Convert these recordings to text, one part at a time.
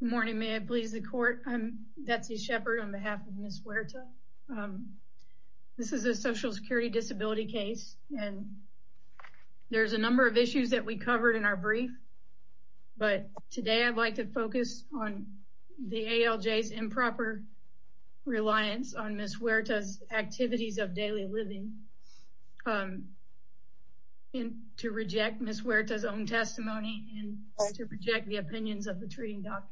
Good morning. May it please the court. I'm Betsy Sheppard on behalf of Ms. Huerta. This is a social security disability case and there's a number of issues that we covered in our brief but today I'd like to focus on the ALJ's improper reliance on Ms. Huerta's activities of daily living and to reject Ms. Huerta's own testimony and to reject the opinions of the treating doctors.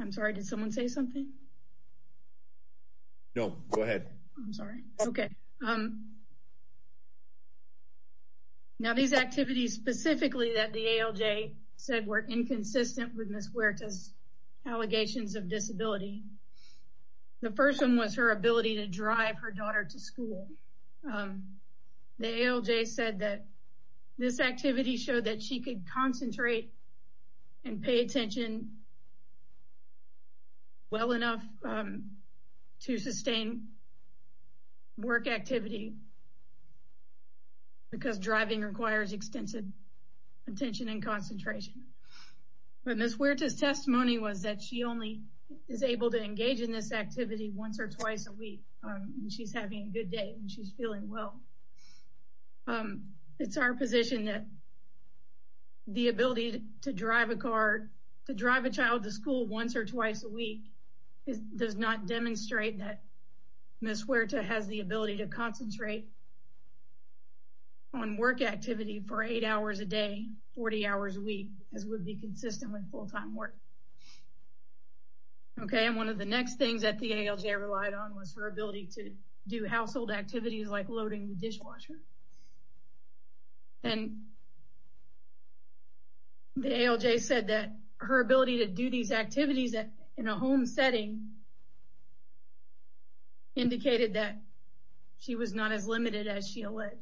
I'm sorry, did someone say something? No, go ahead. I'm sorry. Okay. Now these activities specifically that the ALJ said were inconsistent with Ms. Huerta's allegations of disability. The first one was her ability to drive her daughter to school. The ALJ said that this activity showed that she could concentrate and pay attention well enough to sustain work activity because driving requires extensive attention and concentration. But Ms. Huerta's testimony was that she only is able to engage in this activity once or twice a week because she's having a good day and she's feeling well. It's our position that the ability to drive a car, to drive a child to school once or twice a week does not demonstrate that Ms. Huerta has the ability to concentrate on work activity for eight hours a day, 40 hours a week as would be consistent with full-time work. Okay, and one of the next things that the ALJ relied on was her ability to do household activities like loading the dishwasher. And the ALJ said that her ability to do these activities in a home setting indicated that she was not as limited as she alleged.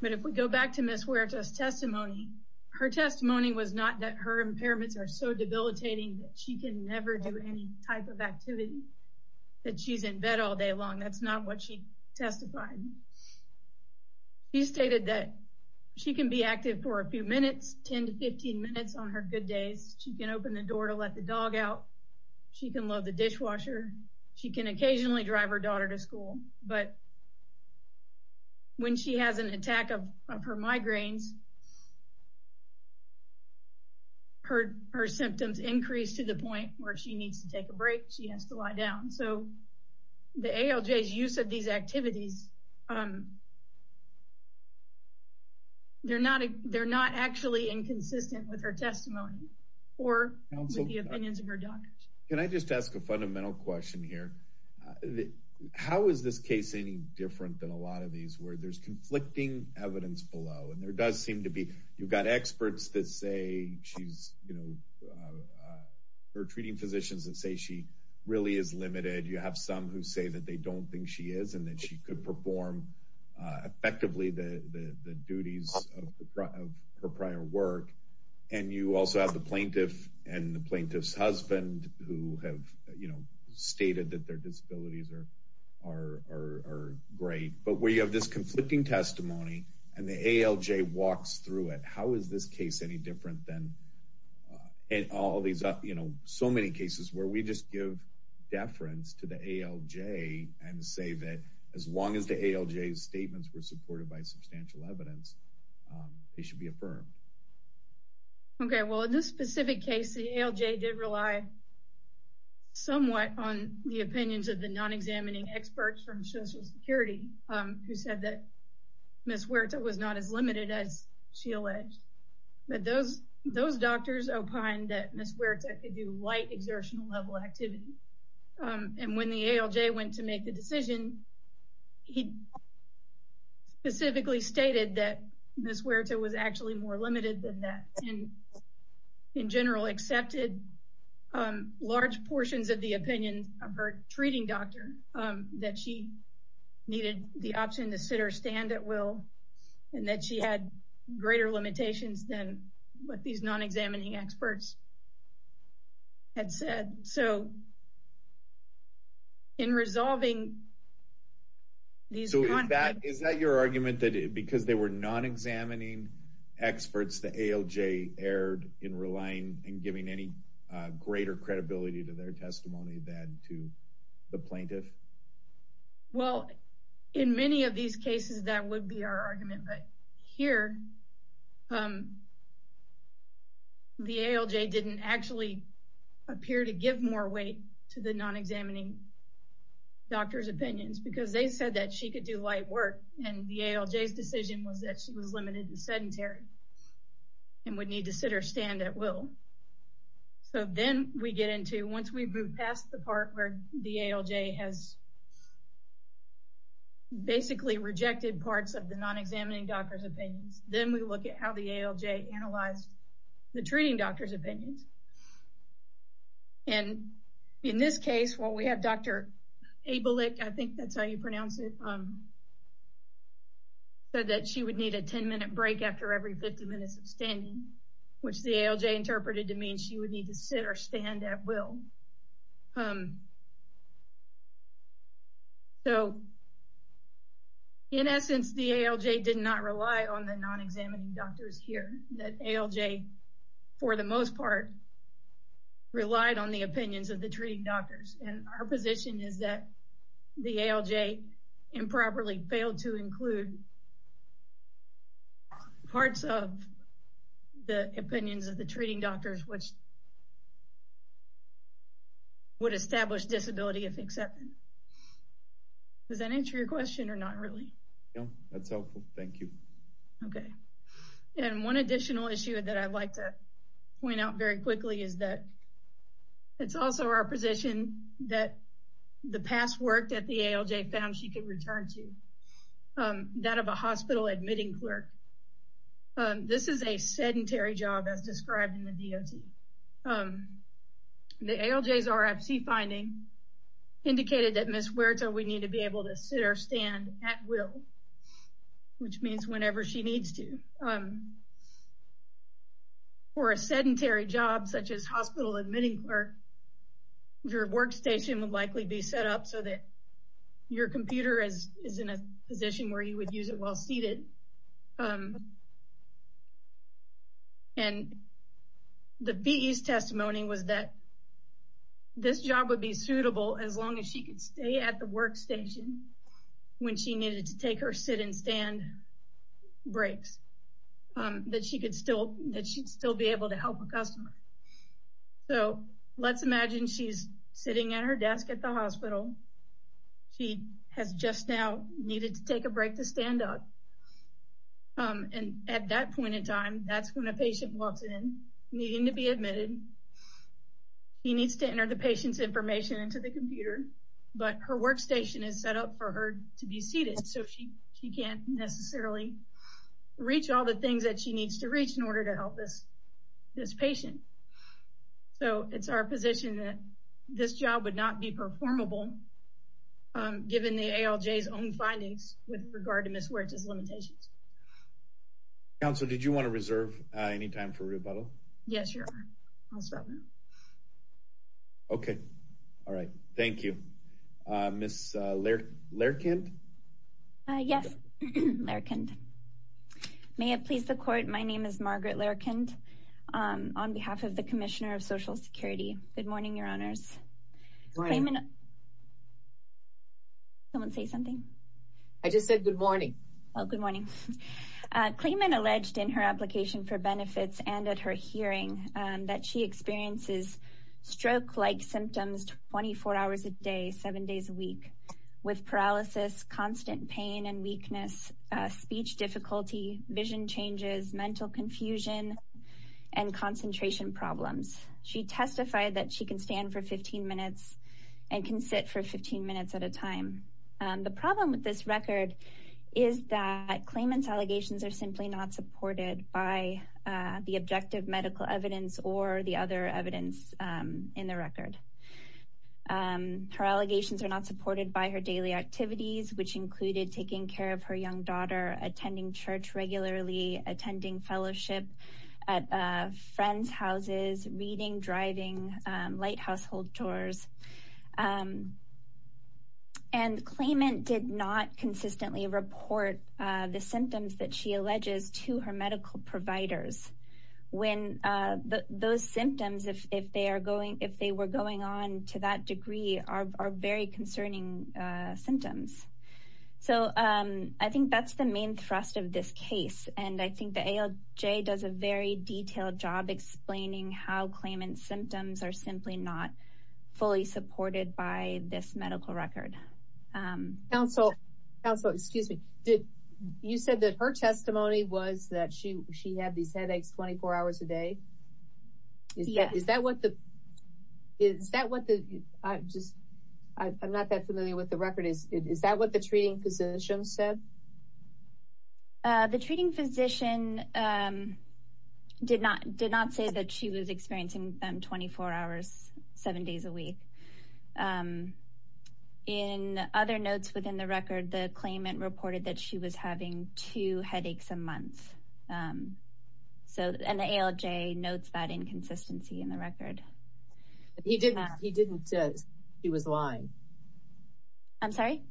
But if we go back to Ms. Huerta's testimony, her testimony was not that her impairments are so debilitating that she can never do any type of activity that she's in bed all day long. That's not what she testified. She stated that she can be active for a few minutes, 10 to 15 minutes on her good days. She can open the door to let the dog out. She can load the dishwasher. She can occasionally drive her daughter to school. But when she has an attack of her migraines, her symptoms increase to the point where she needs to take a break. She has to lie down. So the ALJ's use of these activities, they're not actually inconsistent with her testimony or the opinions of her doctors. Can I just ask a fundamental question here? How is this case any different than a lot of these where there's conflicting evidence below? And there does seem to be, you've got experts that say she's, you know, her treating physicians that say she really is limited. You have some who say that they don't think she is and that she could perform effectively the duties of her prior work. And you also have the plaintiff and the plaintiff's husband who have, you know, stated that their disabilities are great. But where you have this conflicting testimony and the ALJ walks through it, how is this case any different than in all these, you know, so many cases where we just give deference to the ALJ and say that as long as the ALJ's statements were supported by substantial evidence, they should be affirmed? Okay, well in this specific case, the ALJ did rely somewhat on the opinions of the non-examining experts from Social Security who said that Ms. Huerta was not as limited as she alleged. But those doctors opined that Ms. Huerta could do light exertional level activity. And when the ALJ went to make the decision, he specifically stated that Ms. Huerta was actually more limited than that. And in general, accepted large portions of the opinions of her treating doctor that she needed the option to sit or stand at will and that she had greater limitations than what these non-examining experts had said. So, in resolving these conflicts... The ALJ erred in relying and giving any greater credibility to their testimony than to the plaintiff? Well, in many of these cases, that would be our argument. But here, the ALJ didn't actually appear to give more weight to the non-examining doctor's opinions because they said that she was limited and sedentary and would need to sit or stand at will. So then we get into, once we move past the part where the ALJ has basically rejected parts of the non-examining doctor's opinions, then we look at how the ALJ analyzed the treating doctor's opinions. And in this case, while we have Dr. Abelick, I think that's how you pronounce it, said that she would need a 10-minute break after every 50 minutes of standing, which the ALJ interpreted to mean she would need to sit or stand at will. So, in essence, the ALJ did not rely on the non-examining doctors here. The ALJ, for the most part, relied on the opinions of the treating doctors. And our position is that the ALJ improperly failed to include parts of the opinions of the treating doctors, which would establish disability of acceptance. Does that answer your question or not really? No, that's helpful. Thank you. Okay. And one additional issue that I'd like to point out very quickly is that it's also our position that the past work that the ALJ found she could return to, that of a hospital admitting clerk, this is a sedentary job as described in the DOT. The ALJ's RFC finding indicated that Ms. Huerta would need to be able to sit or stand at will, which means your workstation would likely be set up so that your computer is in a position where you would use it while seated. And the BE's testimony was that this job would be suitable as long as she could stay at the workstation when she needed to take her sit and stand breaks, that she'd still be able to help a customer. So let's imagine she's sitting at her desk at the hospital. She has just now needed to take a break to stand up. And at that point in time, that's when a patient walks in needing to be admitted. He needs to enter the patient's information into the computer, but her workstation is set up for her to be seated. So she can't necessarily reach all the things that she needs to reach in order to help this patient. So it's our position that this job would not be performable given the ALJ's own findings with regard to Ms. Huerta's limitations. Counsel, did you want to reserve any time for rebuttal? Yes, Your Honor. I'll reserve it. Okay. All right. Thank you. Ms. Lerkind? Yes, Lerkind. May it please the Court, my name is Margaret Lerkind on behalf of the Commissioner of Social Security. Good morning, Your Honors. Good morning. Someone say something? I just said good morning. Oh, good morning. Klayman alleged in her application for benefits and at her hearing that she experiences stroke-like symptoms 24 hours a day, seven days a week, with paralysis, constant pain and weakness, speech difficulty, vision changes, mental confusion, and concentration problems. She testified that she can stand for 15 minutes and can sit for 15 minutes at a time. The problem with this record is that Klayman's allegations are simply not supported by the objective medical evidence or the other evidence in the record. Her allegations are not supported by her daily activities, which included taking care of her young daughter, attending church regularly, attending fellowship at friends' houses, reading, driving, light household tours. And Klayman did not consistently report the symptoms that she alleges to her medical providers when those symptoms, if they were going on to that degree, are very concerning symptoms. So I think that's the main thrust of this case. And I think the ALJ does a very detailed job explaining how Klayman's symptoms are simply not fully supported by this medical record. Counsel, excuse me. You said that her testimony was that she had these headaches 24 hours a day. Is that what the, is that what the, I just, I'm not that familiar with the record. Is that what the treating physician said? The treating physician did not say that she was experiencing them 24 hours seven days a week. In other notes within the record, the Klayman reported that she was having two headaches a month. So, and the ALJ notes that inconsistency in the record. He didn't, he didn't, he was lying. I'm sorry?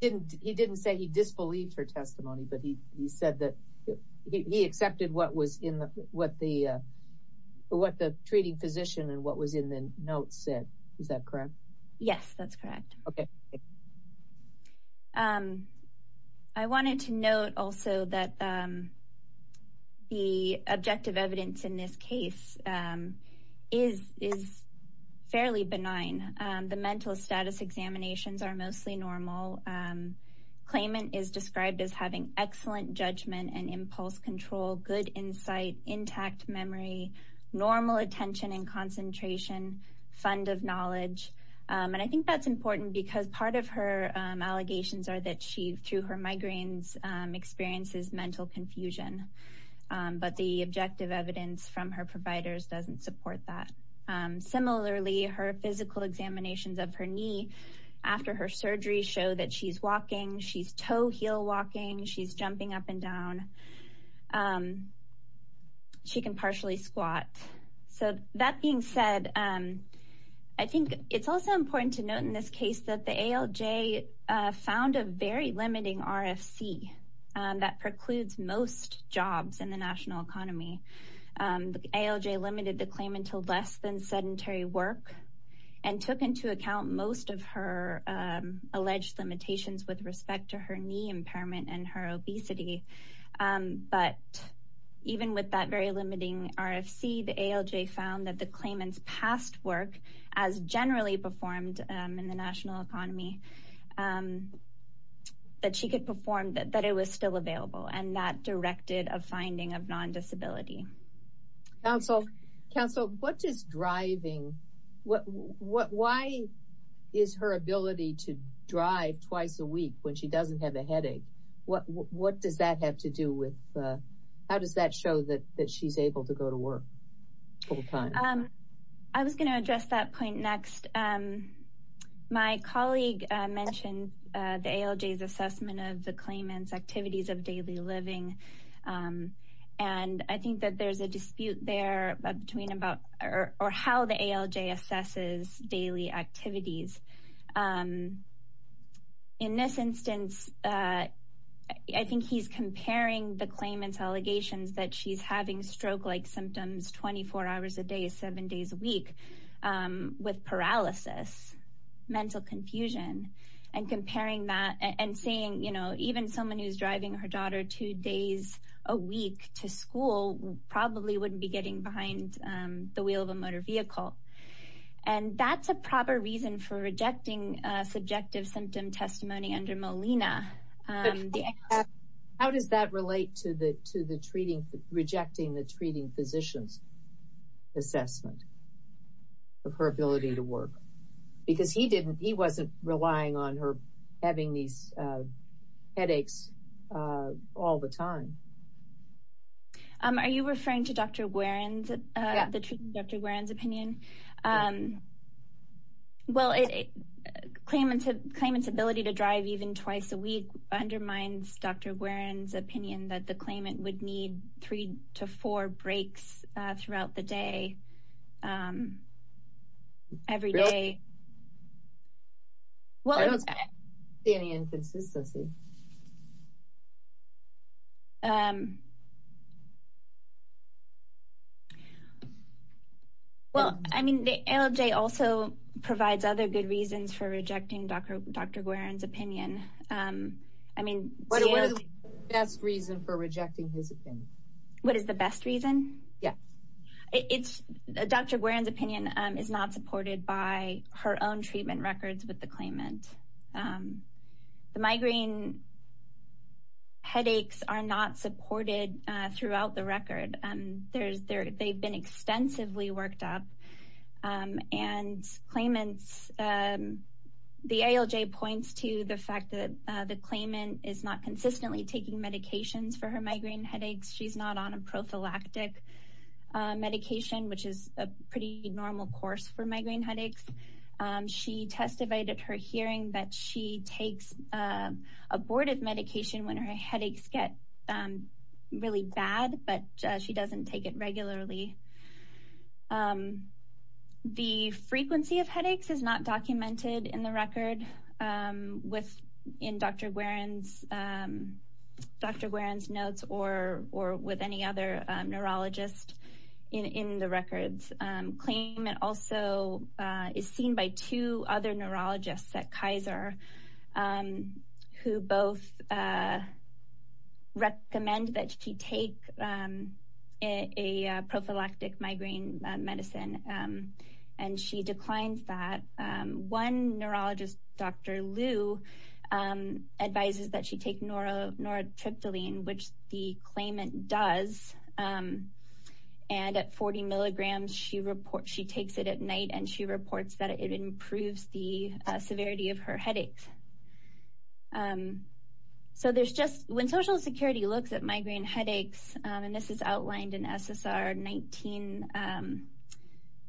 Didn't, he didn't say he disbelieved her testimony, but he said that he accepted what was in the, what the, what the treating physician and what was in the notes said. Is that correct? Yes, that's correct. Okay. I wanted to note also that the objective evidence in this case is, is fairly benign. The mental status examinations are mostly normal. Klayman is described as having excellent judgment and impulse control, good insight, intact memory, normal attention and concentration, fund of knowledge. And I think that's important because part of her allegations are that she, through her migraines, experiences mental confusion. But the objective evidence from her providers doesn't support that. Similarly, her physical examinations of her knee after her surgery show that she's walking, she's toe heel walking, she's jumping up and down. She can partially squat. So that being said, I think it's also important to note in this case that the ALJ found a very limiting RFC that precludes most jobs in the national economy. The ALJ limited the claim until less than sedentary work and took into account most of her alleged limitations with respect to her knee impairment and her obesity. But even with that very limiting RFC, the ALJ found that the Klayman's past work, as generally performed in the national economy, that she could perform, that it was still available. And that directed a finding of non-disability. Council, what is driving, why is her ability to drive twice a week when she doesn't have a job? How does that show that she's able to go to work full time? I was going to address that point next. My colleague mentioned the ALJ's assessment of the Klayman's activities of daily living. And I think that there's a dispute there between about, or how the ALJ assesses daily activities. In this instance, I think he's comparing the Klayman's allegations that she's having stroke-like symptoms 24 hours a day, seven days a week, with paralysis, mental confusion. And comparing that, and saying, you know, even someone who's driving her daughter two days a week to school probably wouldn't be getting behind the wheel of a motor vehicle. And that's a proper reason for, you know, rejecting subjective symptom testimony under Molina. How does that relate to the treating, rejecting the treating physician's assessment of her ability to work? Because he didn't, he wasn't relying on her having these headaches all the time. Are you referring to Dr. Warren's, the treating Dr. Warren's opinion? Well, Klayman's, Klayman's ability to drive even twice a week undermines Dr. Warren's opinion that the Klayman would need three to four breaks throughout the day, every day. Well, I don't see any inconsistency. Well, I mean, the ALJ also provides other good reasons for rejecting Dr. Warren's opinion. I mean, what is the best reason for rejecting his opinion? What is the best reason? Yes. It's, Dr. Warren's opinion is not supported by her own treatment records with the Klayman. Klayman headaches are not supported throughout the record. There's, they've been extensively worked up. And Klayman's, the ALJ points to the fact that the Klayman is not consistently taking medications for her migraine headaches. She's not on a prophylactic medication, which is a pretty normal course for migraine headaches. She testified at her hearing that she takes abortive medication when her headaches get really bad, but she doesn't take it regularly. The frequency of headaches is not documented in the record with, in Dr. Warren's, Dr. Warren's notes or with any other neurologist in the records. Klayman also is seen by two other neurologists at Kaiser who both recommend that she take a prophylactic migraine medicine. And she declined that. One neurologist, Dr. Liu, advises that she take norotriptyline, which the Klayman does. And at 40 milligrams, she reports, at night, and she reports that it improves the severity of her headaches. So there's just, when Social Security looks at migraine headaches, and this is outlined in SSR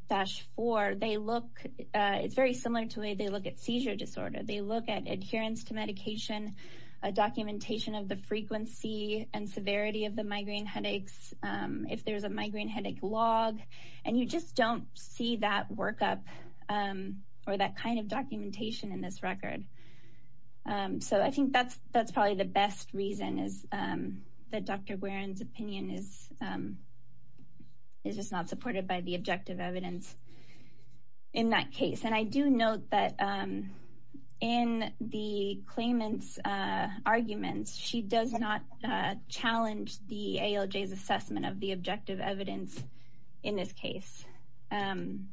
19-4, they look, it's very similar to the way they look at seizure disorder. They look at adherence to medication, a documentation of the frequency and severity of the migraine headaches. If there's a migraine headache log, and you just don't see that workup, or that kind of documentation in this record. So I think that's probably the best reason is that Dr. Warren's opinion is just not supported by the objective evidence in that case. And I do note that in the Klayman's arguments, she does not challenge the ALJ's assessment of the objective evidence in this case. And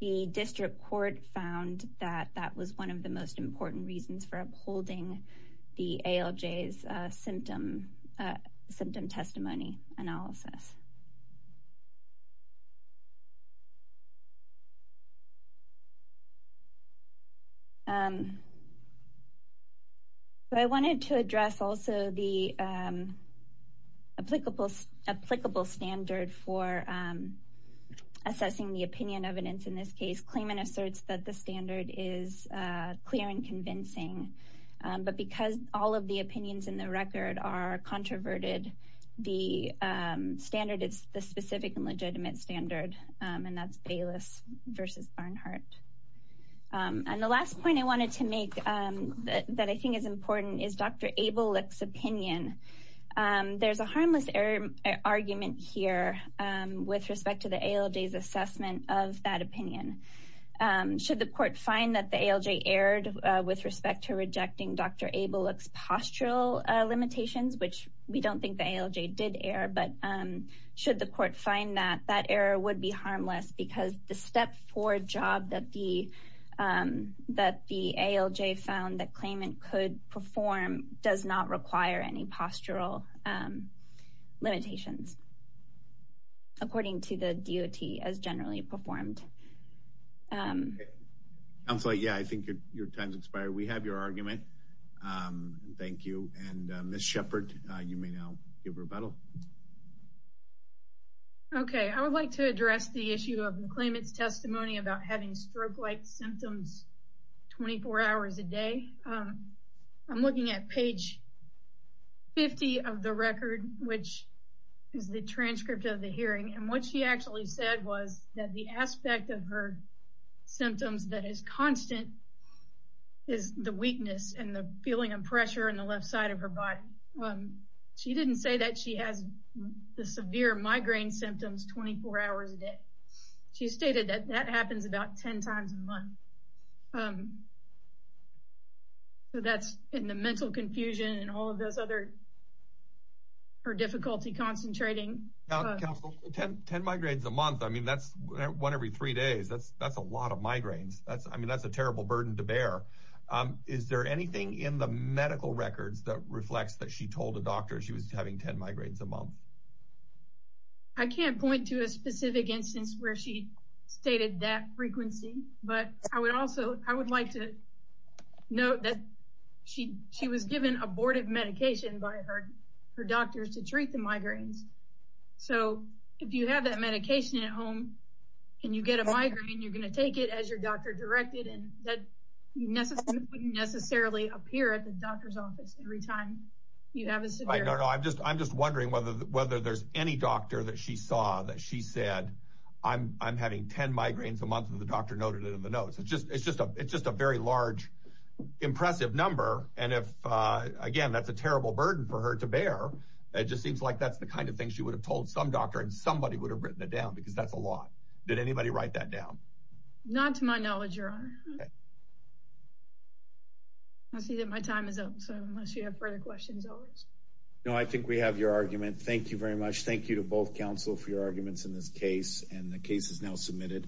the district court found that that was one of the most important reasons for upholding the ALJ's symptom testimony analysis. So I wanted to address also the applicable standard for assessing the opinion evidence in this case. Klayman asserts that the standard is clear and convincing. But because all of the And that's Bayless versus Barnhart. And the last point I wanted to make that I think is important is Dr. Abelik's opinion. There's a harmless error argument here with respect to the ALJ's assessment of that opinion. Should the court find that the ALJ erred with respect to rejecting Dr. Abelik's postural limitations, which we don't think the ALJ did err, but should the court find that that error would be harmless because the step four job that the ALJ found that Klayman could perform does not require any postural limitations, according to the DOT as generally performed. I'm sorry. Yeah, I think your time's expired. We have your argument. Thank you. And I would like to address the issue of Klayman's testimony about having stroke-like symptoms 24 hours a day. I'm looking at page 50 of the record, which is the transcript of the hearing. And what she actually said was that the aspect of her symptoms that is constant is the weakness and the feeling of pressure in the left side of her body. She didn't say that she has the severe migraine symptoms 24 hours a day. She stated that that happens about 10 times a month. So that's in the mental confusion and all of those other difficulty concentrating. 10 migraines a month. I mean, that's one every three days. That's a lot of migraines. I mean, that's a terrible burden to bear. Is there anything in the medical records that reflects that she told a doctor she was having 10 migraines a month? I can't point to a specific instance where she stated that frequency, but I would like to note that she was given abortive medication by her doctors to treat the migraines. So if you have that medication at home and you get a migraine, you're going to take it as your doctor directed, and that wouldn't necessarily appear at the doctor's office every time. I'm just wondering whether there's any doctor that she saw that she said, I'm having 10 migraines a month and the doctor noted it in the notes. It's just a very large, impressive number. And again, that's a terrible burden for her to bear. It just seems like that's the kind of thing she would have told some doctor and somebody would have written it down because that's a lot. Did anybody write that down? Not to my knowledge, your honor. I see that my time is up. So unless you have further questions, always. No, I think we have your argument. Thank you very much. Thank you to both counsel for your arguments in this case, and the case is now submitted.